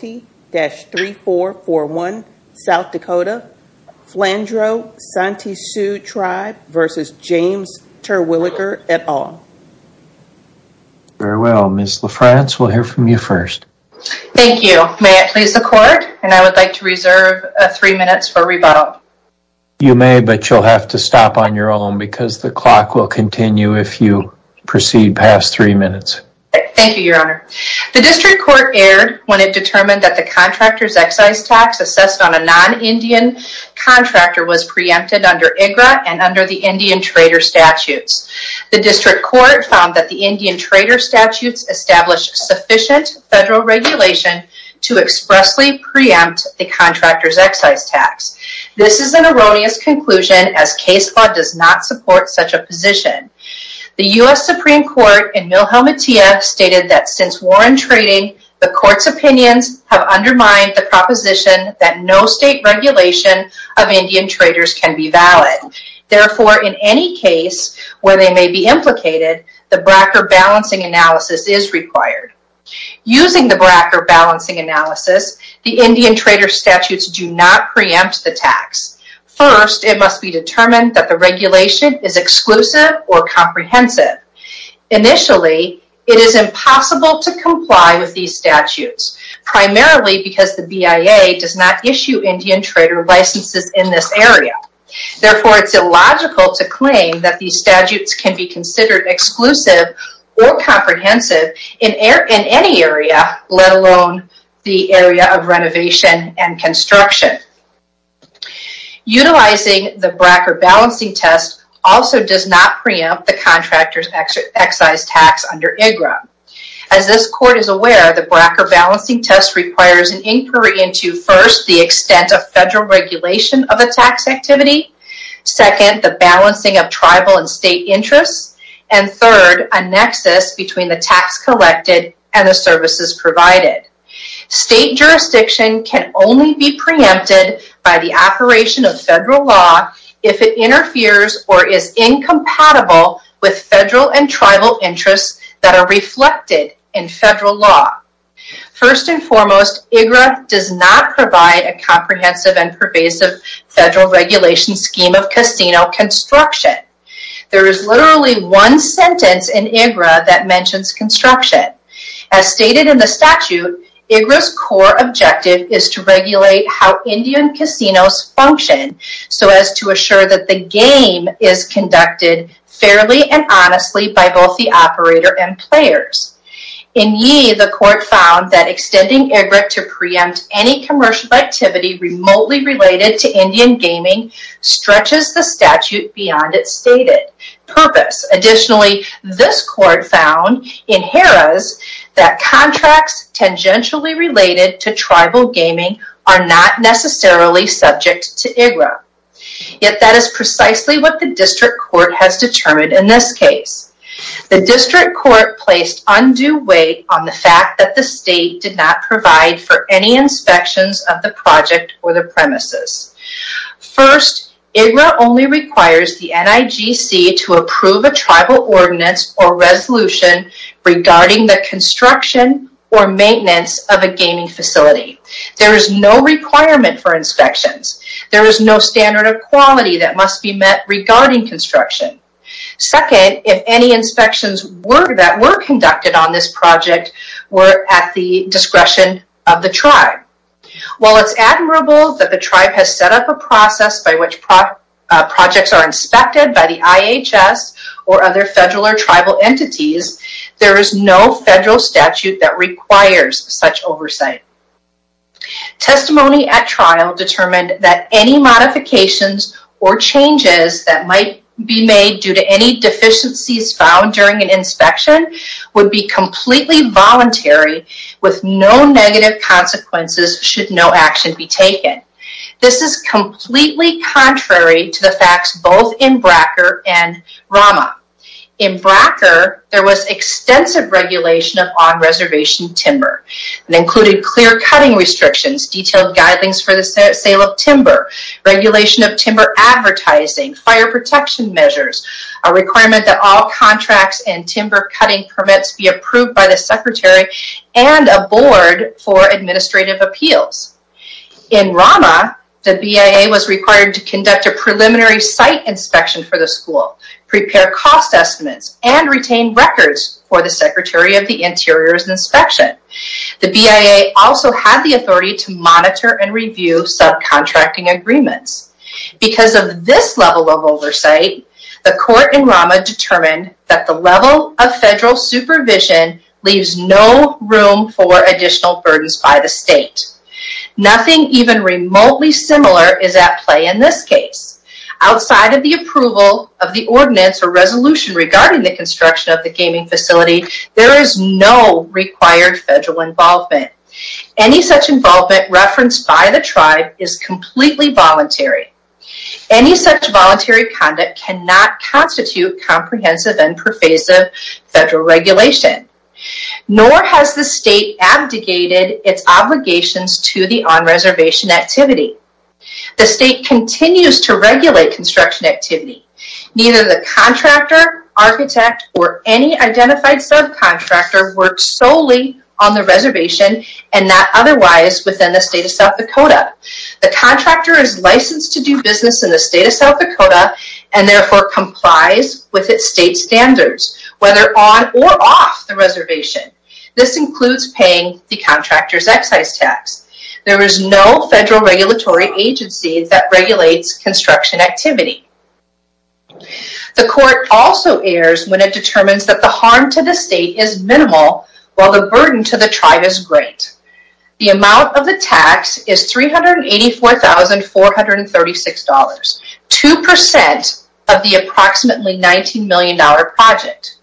South Dakota, Flandreau Santee Sioux Tribe v. James Terwilliger, et al. Very well. Ms. LaFrance, we'll hear from you first. Thank you. May it please the Court, and I would like to reserve three minutes for rebuttal. You may, but you'll have to stop on your own because the clock will continue if you proceed past three minutes. Thank you, Your Honor. The District Court erred when it determined that the contractor's excise tax assessed on a non-Indian contractor was preempted under IGRA and under the Indian Trader Statutes. The District Court found that the Indian Trader Statutes established sufficient federal regulation to expressly preempt the contractor's excise tax. This is an erroneous conclusion as case law does not support such a position. The U.S. Supreme Court in Milhelmettea stated that since Warren Trading, the Court's opinions have undermined the proposition that no state regulation of Indian traders can be valid. Therefore, in any case where they may be implicated, the BRAC or balancing analysis is required. Using the BRAC or balancing analysis, the Indian Trader Statutes do not preempt the tax. First, it must be determined that the regulation is exclusive or comprehensive. Initially, it is impossible to comply with these statutes, primarily because the BIA does not issue Indian trader licenses in this area. Therefore, it is illogical to claim that these statutes can be considered exclusive or comprehensive in any area, let alone the area of renovation and construction. Utilizing the BRAC or balancing test also does not preempt the contractor's excise tax under IGRA. As this Court is aware, the BRAC or balancing test requires an inquiry into, first, the extent of federal regulation of a tax activity, second, the balancing of tribal and state interests, and third, a nexus between the tax collected and the services provided. State jurisdiction can only be preempted by the operation of federal law if it interferes or is incompatible with federal and tribal interests that are reflected in federal law. First and foremost, IGRA does not provide a comprehensive and pervasive federal regulation scheme of casino construction. There is literally one sentence in IGRA that mentions construction. As stated in the statute, IGRA's core objective is to regulate how Indian casinos function so as to assure that the game is conducted fairly and honestly by both the operator and players. In Yee, the Court found that extending IGRA to preempt any commercial activity remotely related to Indian gaming stretches the statute beyond its stated purpose. Additionally, this Court found in Harrah's that contracts tangentially related to tribal gaming are not necessarily subject to IGRA. Yet that is precisely what the District Court has determined in this case. The District Court placed undue weight on the fact that the State did not provide for any inspections of the project or the premises. First, IGRA only requires the NIGC to approve a tribal ordinance or resolution regarding the construction or maintenance of a gaming facility. There is no requirement for inspections. There is no standard of quality that must be met regarding construction. Second, if any inspections that were conducted on this project were at the discretion of the tribe. While it's admirable that the tribe has set up a process by which projects are inspected by the IHS or other federal or tribal entities, there is no federal statute that requires such oversight. Testimony at trial determined that any modifications or changes that might be made due to any deficiencies found during an inspection would be completely voluntary with no negative consequences should no action be taken. This is completely contrary to the facts both in Bracker and Rama. In Bracker, there was extensive regulation of on-reservation timber. It included clear cutting restrictions, detailed guidelines for the sale of timber, regulation of timber advertising, fire protection measures, a requirement that all contracts and timber cutting permits be approved by the Secretary and a board for administrative appeals. In Rama, the BIA was required to conduct a preliminary site inspection for the school, prepare cost estimates, and retain records for the Secretary of the Interior's inspection. The BIA also had the authority to monitor and review subcontracting agreements. Because of this level of oversight, the court in Rama determined that the level of federal supervision leaves no room for additional burdens by the state. Nothing even remotely similar is at play in this case. Outside of the approval of the ordinance or resolution regarding the construction of the gaming facility, there is no required federal involvement. Any such involvement referenced by the tribe is completely voluntary. Any such voluntary conduct cannot constitute comprehensive and pervasive federal regulation. Nor has the state abdicated its obligations to the on-reservation activity. The state continues to regulate construction activity. Neither the contractor, architect, or any identified subcontractor works solely on the reservation and not otherwise within the state of South Dakota. The contractor is licensed to do business in the state of South Dakota and therefore complies with its state standards, whether on or off the reservation. This includes paying the contractor's excise tax. There is no federal regulatory agency that regulates construction activity. The court also errs when it determines that the harm to the state is minimal while the burden to the tribe is great. The amount of the tax is $384,436, 2% of the approximately $19 million project.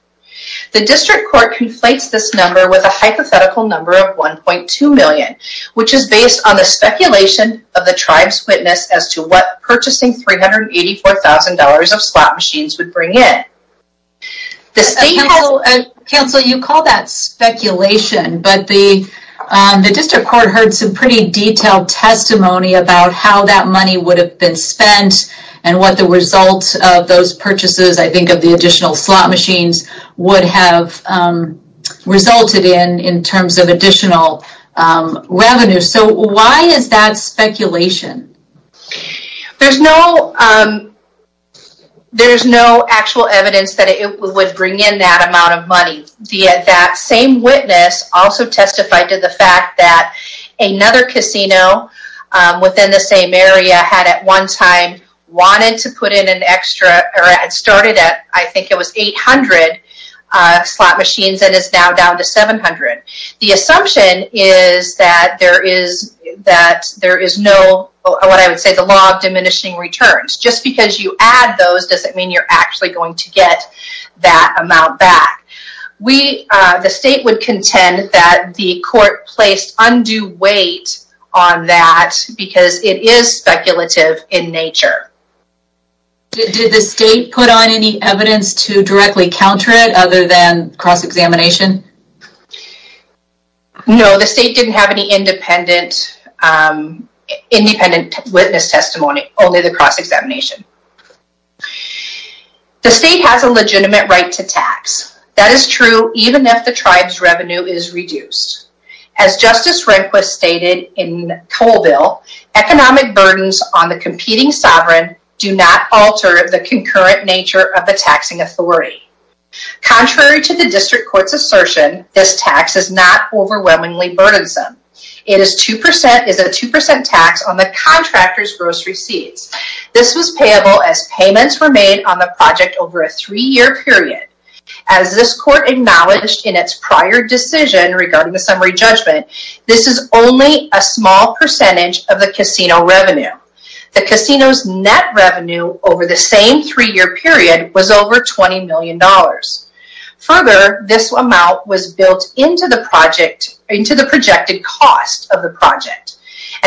The district court conflates this number with a hypothetical number of $1.2 million, which is based on the speculation of the tribe's witness as to what purchasing $384,000 of slot machines would bring in. The state has... Counsel, you call that speculation, but the district court heard some pretty detailed testimony about how that money would have been spent and what the result of those purchases, I think of the additional slot machines, would have resulted in in terms of additional revenue. So why is that speculation? There's no actual evidence that it would bring in that amount of money. That same witness also testified to the fact that another casino within the same area had at one time wanted to put in an extra... It started at, I think it was 800 slot machines and is now down to 700. The assumption is that there is no, what I would say, the law of diminishing returns. Just because you add those doesn't mean you're actually going to get that amount back. The state would contend that the court placed undue weight on that because it is speculative in nature. Did the state put on any evidence to directly counter it other than cross-examination? No, the state didn't have any independent witness testimony, only the cross-examination. The state has a legitimate right to tax. That is true even if the tribe's revenue is reduced. As Justice Rehnquist stated in Colville, economic burdens on the competing sovereign do not alter the concurrent nature of the taxing authority. Contrary to the district court's assertion, this tax is not overwhelmingly burdensome. It is a 2% tax on the contractor's gross receipts. This was payable as payments were made on the project over a three-year period. As this court acknowledged in its prior decision regarding the summary judgment, this is only a small percentage of the casino revenue. The casino's net revenue over the same three-year period was over $20 million. Further, this amount was built into the projected cost of the project.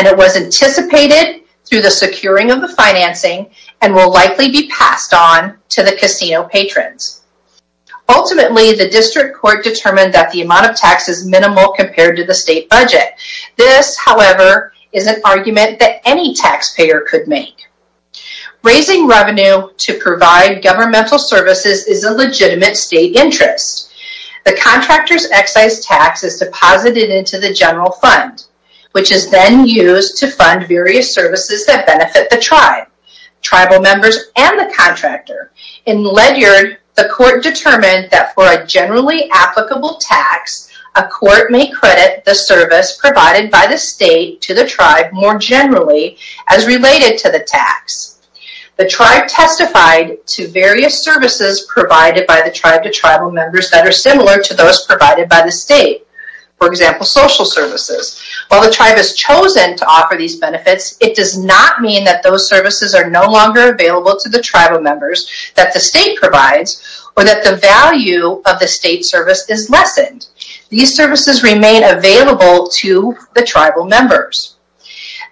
It was anticipated through the securing of the financing and will likely be passed on to the casino patrons. Ultimately, the district court determined that the amount of tax is minimal compared to the state budget. This, however, is an argument that any taxpayer could make. Raising revenue to provide governmental services is a legitimate state interest. The contractor's excise tax is deposited into the general fund, which is then used to fund various services that benefit the tribe, tribal members, and the contractor. In Ledyard, the court determined that for a generally applicable tax, a court may credit the service provided by the state to the tribe more generally as related to the tax. The tribe testified to various services provided by the tribe to tribal members that are similar to those provided by the state. For example, social services. While the tribe has chosen to offer these benefits, it does not mean that those services are no longer available to the tribal members that the state provides or that the value of the state service is lessened. These services remain available to the tribal members.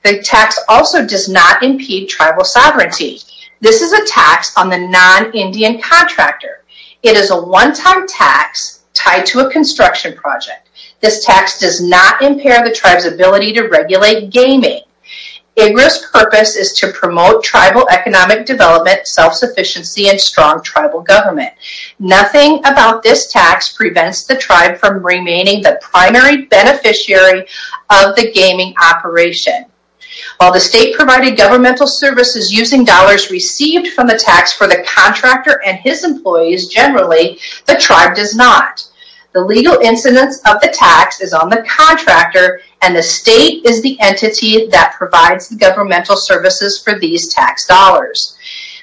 The tax also does not impede tribal sovereignty. This is a tax on the non-Indian contractor. It is a one-time tax tied to a construction project. This tax does not impair the tribe's ability to regulate gaming. IGRA's purpose is to promote tribal economic development, self-sufficiency, and strong tribal government. Nothing about this tax prevents the tribe from remaining the primary beneficiary of the gaming operation. While the state provided governmental services using dollars received from the tax for the contractor and his employees generally, the tribe does not. The legal incidence of the tax is on the contractor, and the state is the entity that provides the governmental services for these tax dollars.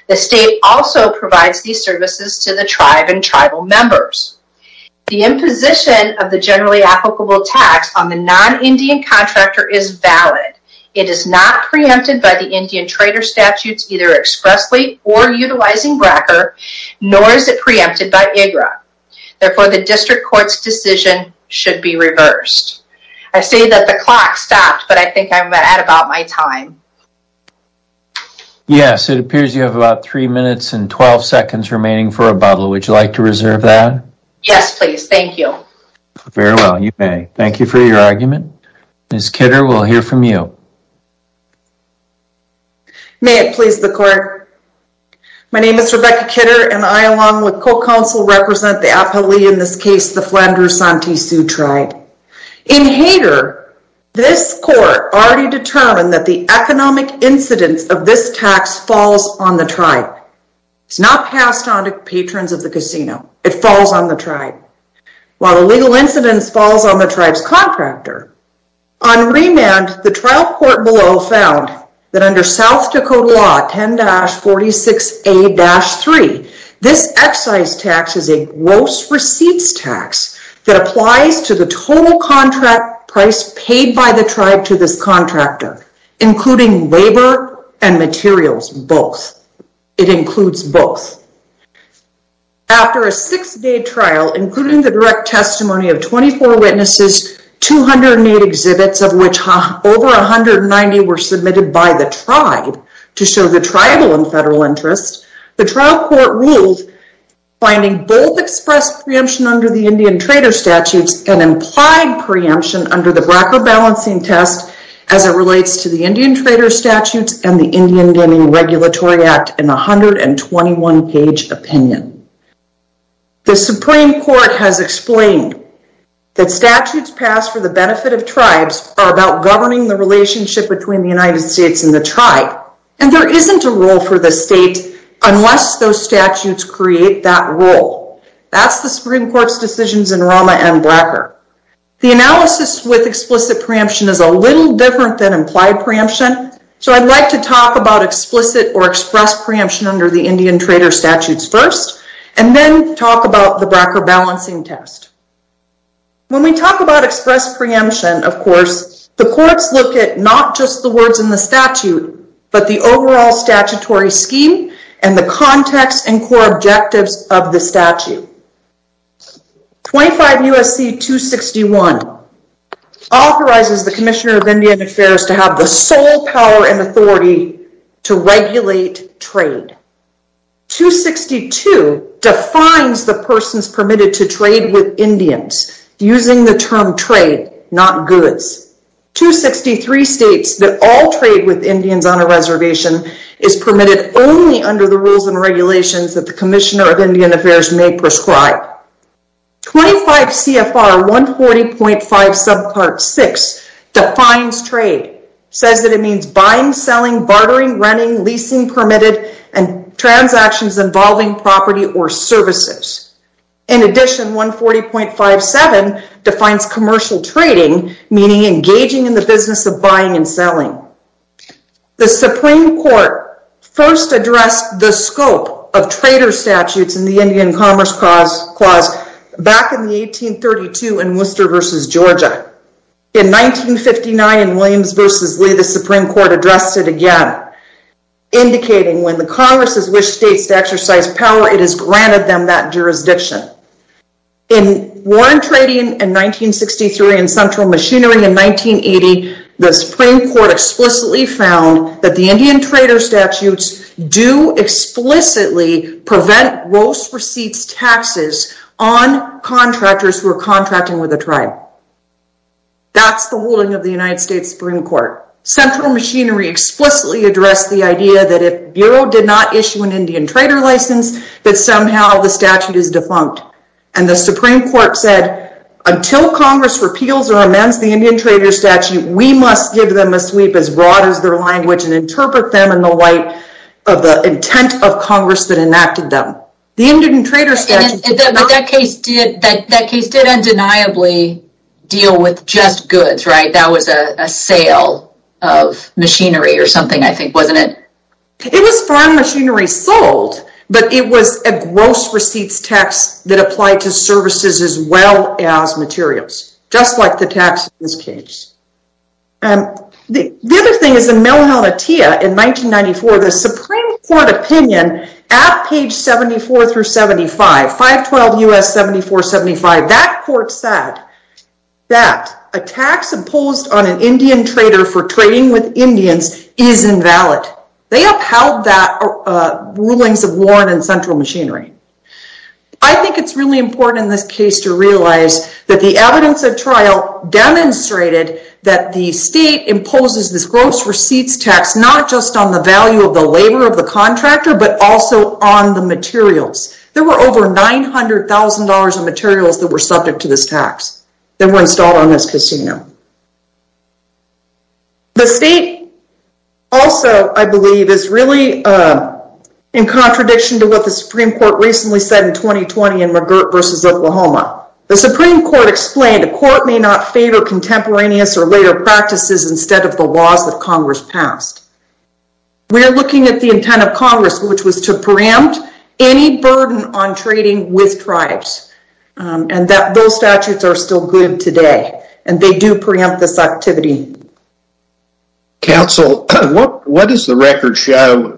The state also provides these services to the tribe and tribal members. The imposition of the generally applicable tax on the non-Indian contractor is valid. It is not preempted by the Indian trader statutes either expressly or utilizing BRCA, nor is it preempted by IGRA. Therefore, the district court's decision should be reversed. I say that the clock stopped, but I think I'm at about my time. Yes, it appears you have about 3 minutes and 12 seconds remaining for rebuttal. Would you like to reserve that? Yes, please. Thank you. Very well, you may. Thank you for your argument. Ms. Kidder, we'll hear from you. May it please the court. My name is Rebecca Kidder, and I, along with co-counsel, represent the Appalachian, in this case, the Flandreau-Santee Sioux tribe. In Hayter, this court already determined that the economic incidence of this tax falls on the tribe. It's not passed on to patrons of the casino. It falls on the tribe. While the legal incidence falls on the tribe's contractor, On remand, the trial court below found that under South Dakota law 10-46A-3, this excise tax is a gross receipts tax that applies to the total contract price paid by the tribe to this contractor, including labor and materials, both. It includes both. After a six-day trial, including the direct testimony of 24 witnesses, 208 exhibits, of which over 190 were submitted by the tribe to show the tribal and federal interest, the trial court ruled finding both express preemption under the Indian trader statutes and implied preemption under the BRCA balancing test as it relates to the Indian trader statutes and the Indian Gaming Regulatory Act in a 121-page opinion. The Supreme Court has explained that statutes passed for the benefit of tribes are about governing the relationship between the United States and the tribe, and there isn't a rule for the state unless those statutes create that rule. That's the Supreme Court's decisions in Rama and BRCA. The analysis with explicit preemption is a little different than implied preemption, so I'd like to talk about explicit or express preemption under the Indian trader statutes first and then talk about the BRCA balancing test. When we talk about express preemption, of course, the courts look at not just the words in the statute but the overall statutory scheme and the context and core objectives of the statute. 25 U.S.C. 261 authorizes the Commissioner of Indian Affairs to have the sole power and authority to regulate trade. 262 defines the persons permitted to trade with Indians using the term trade, not goods. 263 states that all trade with Indians on a reservation is permitted only under the rules and regulations that the Commissioner of Indian Affairs may prescribe. 25 CFR 140.5 subpart 6 defines trade. It says that it means buying, selling, bartering, renting, leasing permitted, and transactions involving property or services. In addition, 140.57 defines commercial trading, meaning engaging in the business of buying and selling. The Supreme Court first addressed the scope of trader statutes in the Indian Commerce Clause back in 1832 in Worcester v. Georgia. In 1959 in Williams v. Lee, the Supreme Court addressed it again, indicating when the Congress has wished states to exercise power, it has granted them that jurisdiction. In Warren Trading in 1963 and Central Machinery in 1980, the Supreme Court explicitly found that the Indian trader statutes do explicitly prevent gross receipts taxes on contractors who are contracting with a tribe. That's the ruling of the United States Supreme Court. Central Machinery explicitly addressed the idea that if the Bureau did not issue an Indian trader license, that somehow the statute is defunct. And the Supreme Court said, until Congress repeals or amends the Indian trader statute, we must give them a sweep as broad as their language and interpret them in the light of the intent of Congress that enacted them. The Indian trader statute... But that case did undeniably deal with just goods, right? That was a sale of machinery or something, I think, wasn't it? It was farm machinery sold, but it was a gross receipts tax that applied to services as well as materials, just like the tax in this case. The other thing is in Mill Hilletia in 1994, the Supreme Court opinion at page 74 through 75, 512 U.S. 7475, that court said that a tax imposed on an Indian trader for trading with Indians is invalid. They upheld that rulings of Warren and Central Machinery. I think it's really important in this case to realize that the evidence of trial demonstrated that the state imposes this gross receipts tax not just on the value of the labor of the contractor, but also on the materials. There were over $900,000 of materials that were subject to this tax that were installed on this casino. The state also, I believe, is really in contradiction to what the Supreme Court recently said in 2020 in McGirt v. Oklahoma. The Supreme Court explained a court may not favor contemporaneous or later practices instead of the laws that Congress passed. We are looking at the intent of Congress, which was to preempt any burden on trading with tribes, and those statutes are still good today, and they do preempt this activity. Counsel, what does the record show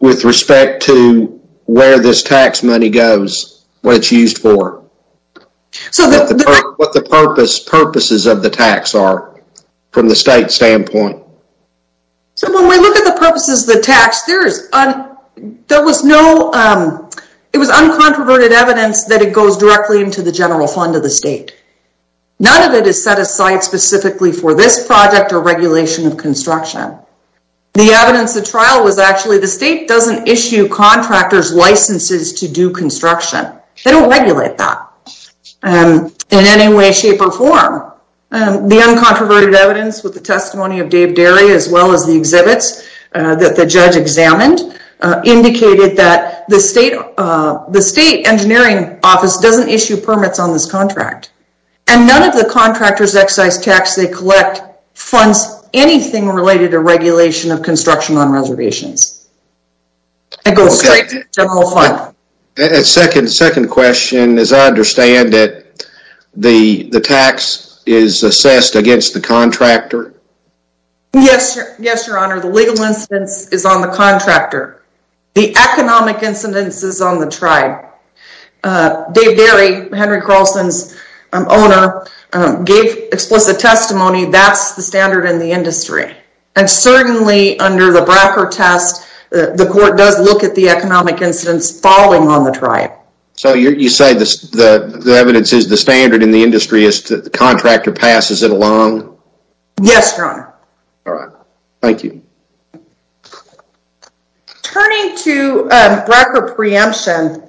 with respect to where this tax money goes, what it's used for, what the purposes of the tax are from the state standpoint? When we look at the purposes of the tax, there was uncontroverted evidence that it goes directly into the general fund of the state. None of it is set aside specifically for this project or regulation of construction. The evidence of trial was actually the state doesn't issue contractors licenses to do construction. They don't regulate that in any way, shape, or form. The uncontroverted evidence with the testimony of Dave Derry as well as the exhibits that the judge examined indicated that the state engineering office doesn't issue permits on this contract, and none of the contractors' excise tax they collect funds anything related to regulation of construction on reservations. It goes straight to the general fund. Second question, as I understand it, the tax is assessed against the contractor? Yes, Your Honor. The legal incidence is on the contractor. The economic incidence is on the tribe. Dave Derry, Henry Carlson's owner, gave explicit testimony that's the standard in the industry. And certainly under the Bracker test, the court does look at the economic incidence falling on the tribe. So you say the evidence is the standard in the industry, the contractor passes it along? Yes, Your Honor. All right. Thank you. Turning to Bracker preemption,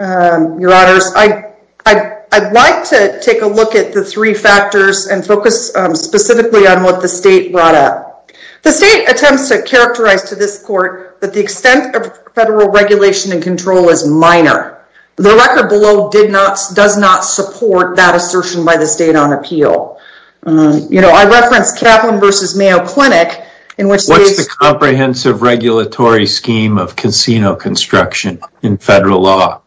Your Honors, I'd like to take a look at the three factors and focus specifically on what the state brought up. The state attempts to characterize to this court that the extent of federal regulation and control is minor. The record below does not support that assertion by the state on appeal. I referenced Kaplan v. Mayo Clinic. What's the comprehensive regulatory scheme of casino construction in federal law?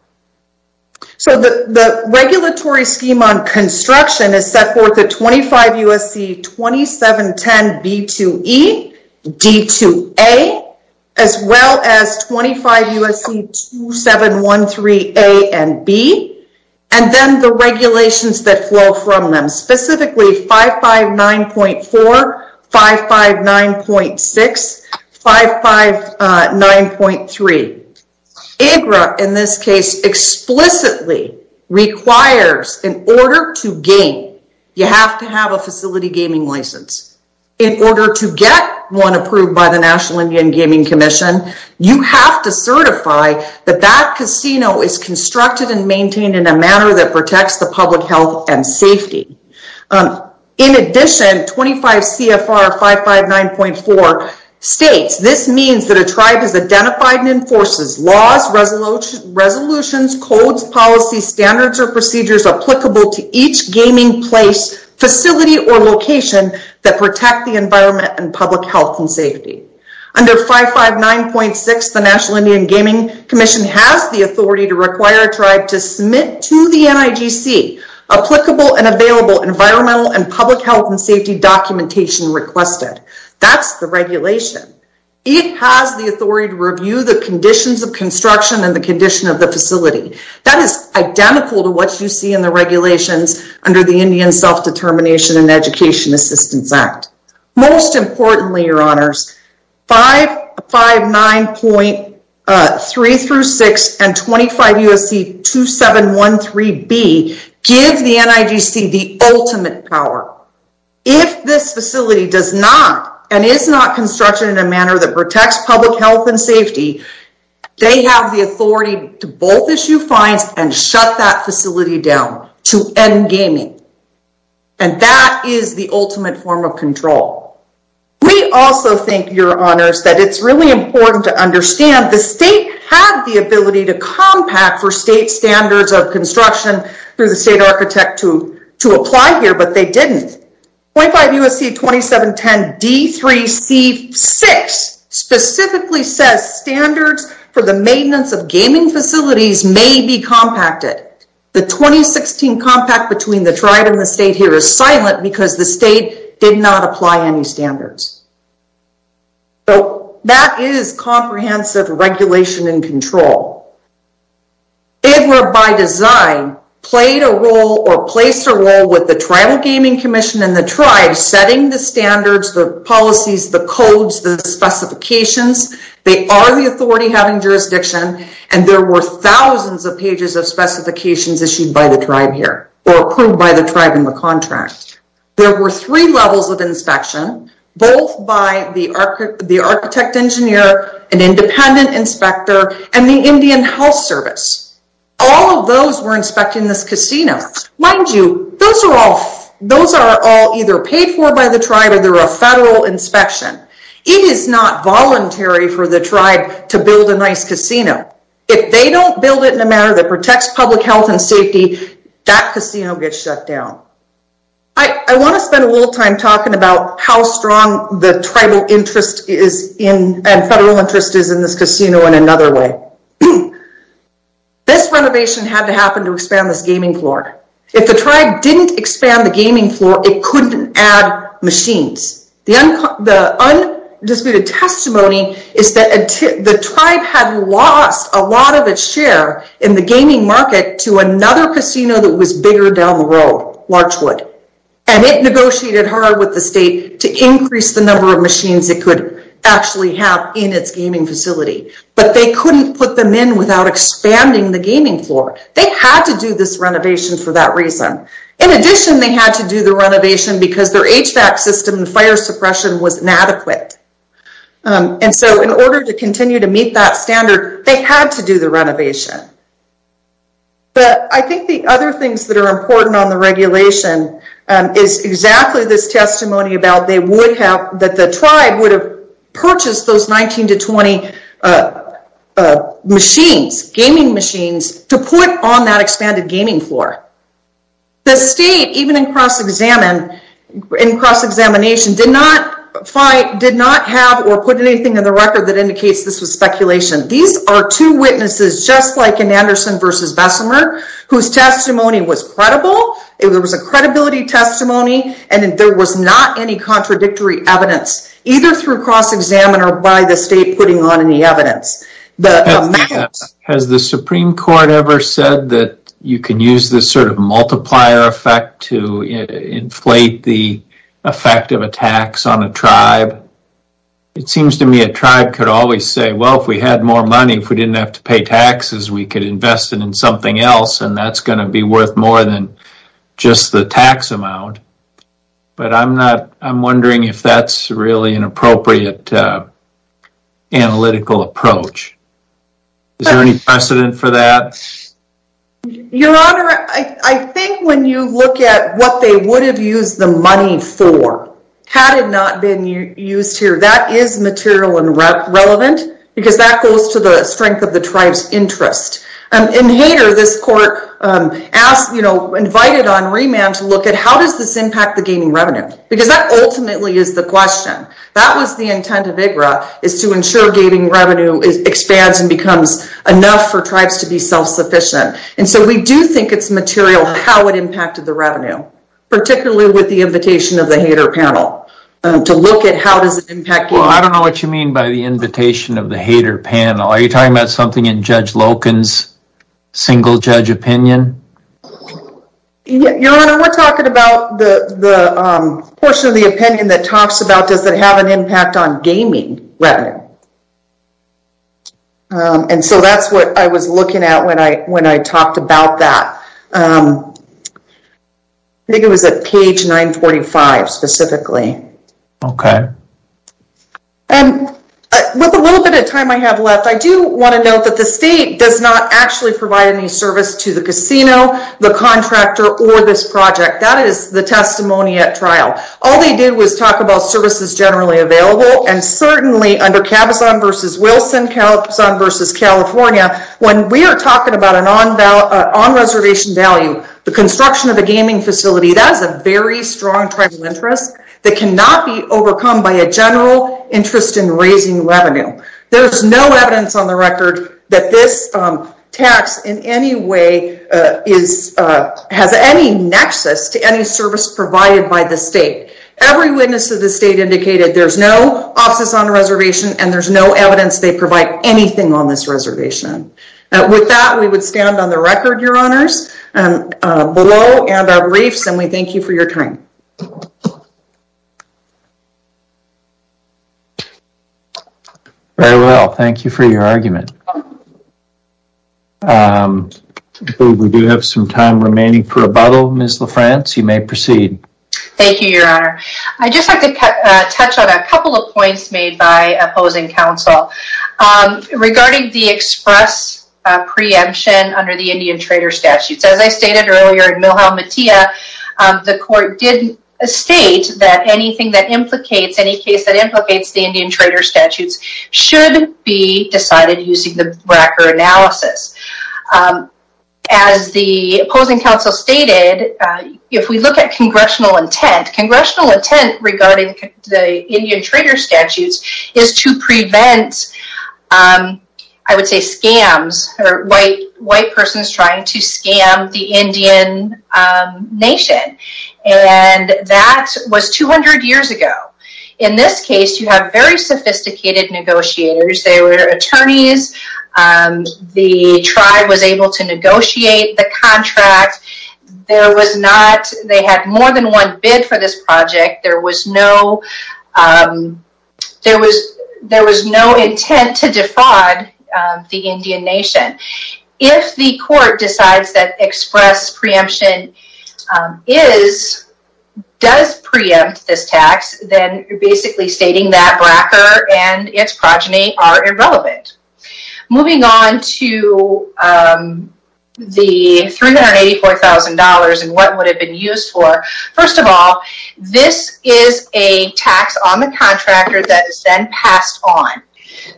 So the regulatory scheme on construction is set forth at 25 U.S.C. 2710B2E, D2A, as well as 25 U.S.C. 2713A and B, and then the regulations that flow from them, specifically 559.4, 559.6, 559.3. AGRA, in this case, explicitly requires, in order to gain, you have to have a facility gaming license. In order to get one approved by the National Indian Gaming Commission, you have to certify that that casino is constructed and maintained in a manner that protects the public health and safety. In addition, 25 CFR 559.4 states, this means that a tribe has identified and enforces laws, resolutions, codes, policies, standards, or procedures applicable to each gaming place, facility, or location that protect the environment and public health and safety. Under 559.6, the National Indian Gaming Commission has the authority to require a tribe to submit to the NIGC applicable and available environmental and public health and safety documentation requested. That's the regulation. It has the authority to review the conditions of construction and the condition of the facility. That is identical to what you see in the regulations under the Indian Self-Determination and Education Assistance Act. Most importantly, your honors, 559.3-6 and 25 U.S.C. 2713B give the NIGC the ultimate power. If this facility does not and is not constructed in a manner that protects public health and safety, they have the authority to both issue fines and shut that facility down to end gaming. And that is the ultimate form of control. We also think, your honors, that it's really important to understand the state had the ability to compact for state standards of construction through the state architect to apply here, but they didn't. 25 U.S.C. 2710D3C6 specifically says standards for the maintenance of gaming facilities may be compacted. The 2016 compact between the tribe and the state here is silent because the state did not apply any standards. So that is comprehensive regulation and control. IDLA, by design, played a role or placed a role with the Tribal Gaming Commission and the tribe setting the standards, the policies, the codes, the specifications. They are the authority having jurisdiction, and there were thousands of pages of specifications issued by the tribe here or approved by the tribe in the contract. There were three levels of inspection, both by the architect engineer, an independent inspector, and the Indian Health Service. All of those were inspecting this casino. Mind you, those are all either paid for by the tribe or they're a federal inspection. It is not voluntary for the tribe to build a nice casino. If they don't build it in a manner that protects public health and safety, that casino gets shut down. I want to spend a little time talking about how strong the tribal interest is and federal interest is in this casino in another way. This renovation had to happen to expand this gaming floor. If the tribe didn't expand the gaming floor, it couldn't add machines. The undisputed testimony is that the tribe had lost a lot of its share in the gaming market to another casino that was bigger down the road, Larchwood. It negotiated hard with the state to increase the number of machines it could actually have in its gaming facility, but they couldn't put them in without expanding the gaming floor. They had to do this renovation for that reason. In addition, they had to do the renovation because their HVAC system and fire suppression was inadequate. In order to continue to meet that standard, they had to do the renovation. I think the other things that are important on the regulation is exactly this testimony that the tribe would have purchased those 19 to 20 gaming machines to put on that expanded gaming floor. The state, even in cross-examination, did not have or put anything in the record that indicates this was speculation. These are two witnesses, just like in Anderson v. Bessemer, whose testimony was credible. There was a credibility testimony, and there was not any contradictory evidence, either through cross-examination or by the state putting on any evidence. Has the Supreme Court ever said that you can use this sort of multiplier effect to inflate the effect of a tax on a tribe? It seems to me a tribe could always say, well, if we had more money, if we didn't have to pay taxes, we could invest it in something else, and that's going to be worth more than just the tax amount. But I'm wondering if that's really an appropriate analytical approach. Is there any precedent for that? Your Honor, I think when you look at what they would have used the money for had it not been used here, that is material and relevant, because that goes to the strength of the tribe's interest. In Hayter, this court invited on remand to look at how does this impact the gaining revenue, because that ultimately is the question. That was the intent of IGRA, is to ensure gaining revenue expands and becomes enough for tribes to be self-sufficient. And so we do think it's material how it impacted the revenue, particularly with the invitation of the Hayter panel to look at how does it impact gaining revenue. Well, I don't know what you mean by the invitation of the Hayter panel. Are you talking about something in Judge Loken's single-judge opinion? Your Honor, we're talking about the portion of the opinion that talks about does it have an impact on gaining revenue. And so that's what I was looking at when I talked about that. I think it was at page 945 specifically. Okay. And with a little bit of time I have left, I do want to note that the state does not actually provide any service to the casino, the contractor, or this project. That is the testimony at trial. All they did was talk about services generally available, and certainly under Cabazon v. Wilson, Cabazon v. California, when we are talking about an on-reservation value, the construction of a gaming facility, that is a very strong tribal interest that cannot be overcome by a general interest in raising revenue. There is no evidence on the record that this tax in any way has any nexus to any service provided by the state. Every witness of the state indicated there's no office on the reservation and there's no evidence they provide anything on this reservation. With that, we would stand on the record, Your Honors, below and our briefs, and we thank you for your time. Very well. Thank you for your argument. We do have some time remaining for rebuttal. Ms. LaFrance, you may proceed. Thank you, Your Honor. I just have to touch on a couple of points made by opposing counsel. Regarding the express preemption under the Indian Trader Statutes, as I stated earlier in Milhau Matia, the court did state that anything that implicates, any case that implicates the Indian Trader Statutes should be decided using the BRAC or analysis. As the opposing counsel stated, if we look at congressional intent, congressional intent regarding the Indian Trader Statutes is to prevent, I would say scams, or white persons trying to scam the Indian nation. And that was 200 years ago. In this case, you have very sophisticated negotiators. They were attorneys. The tribe was able to negotiate the contract. There was not, they had more than one bid for this project. There was no intent to defraud the Indian nation. If the court decides that express preemption is, does preempt this tax, then you're basically stating that BRAC and its progeny are irrelevant. Moving on to the $384,000 and what it would have been used for. First of all, this is a tax on the contractor that is then passed on.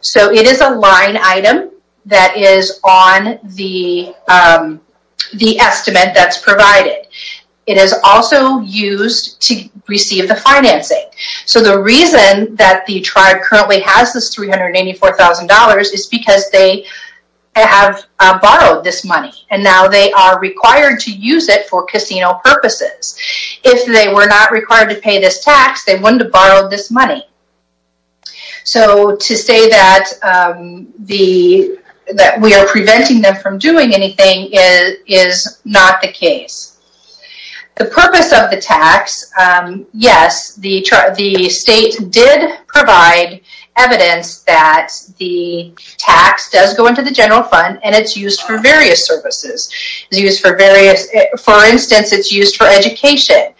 So it is a line item that is on the estimate that's provided. It is also used to receive the financing. So the reason that the tribe currently has this $384,000 is because they have borrowed this money. And now they are required to use it for casino purposes. If they were not required to pay this tax, they wouldn't have borrowed this money. So to say that we are preventing them from doing anything is not the case. The purpose of the tax, yes, the state did provide evidence that the tax does go into the general fund and it's used for various services. It's used for various, for instance, it's used for education.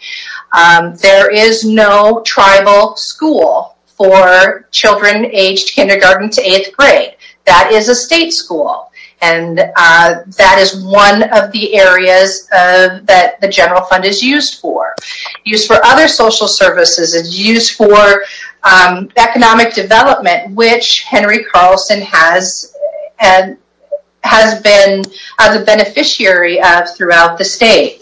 There is no tribal school for children aged kindergarten to eighth grade. That is a state school. And that is one of the areas that the general fund is used for. Used for other social services, used for economic development, which Henry Carlson has been a beneficiary of throughout the state.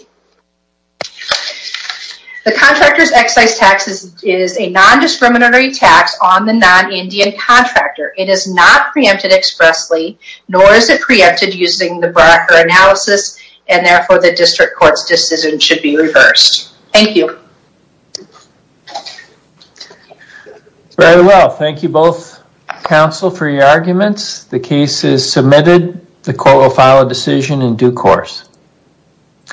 The contractor's excise tax is a nondiscriminatory tax on the non-Indian contractor. It is not preempted expressly, nor is it preempted using the BRCA analysis, and therefore the district court's decision should be reversed. Thank you. Very well. Thank you both, counsel, for your arguments. The case is submitted. The court will file a decision in due course.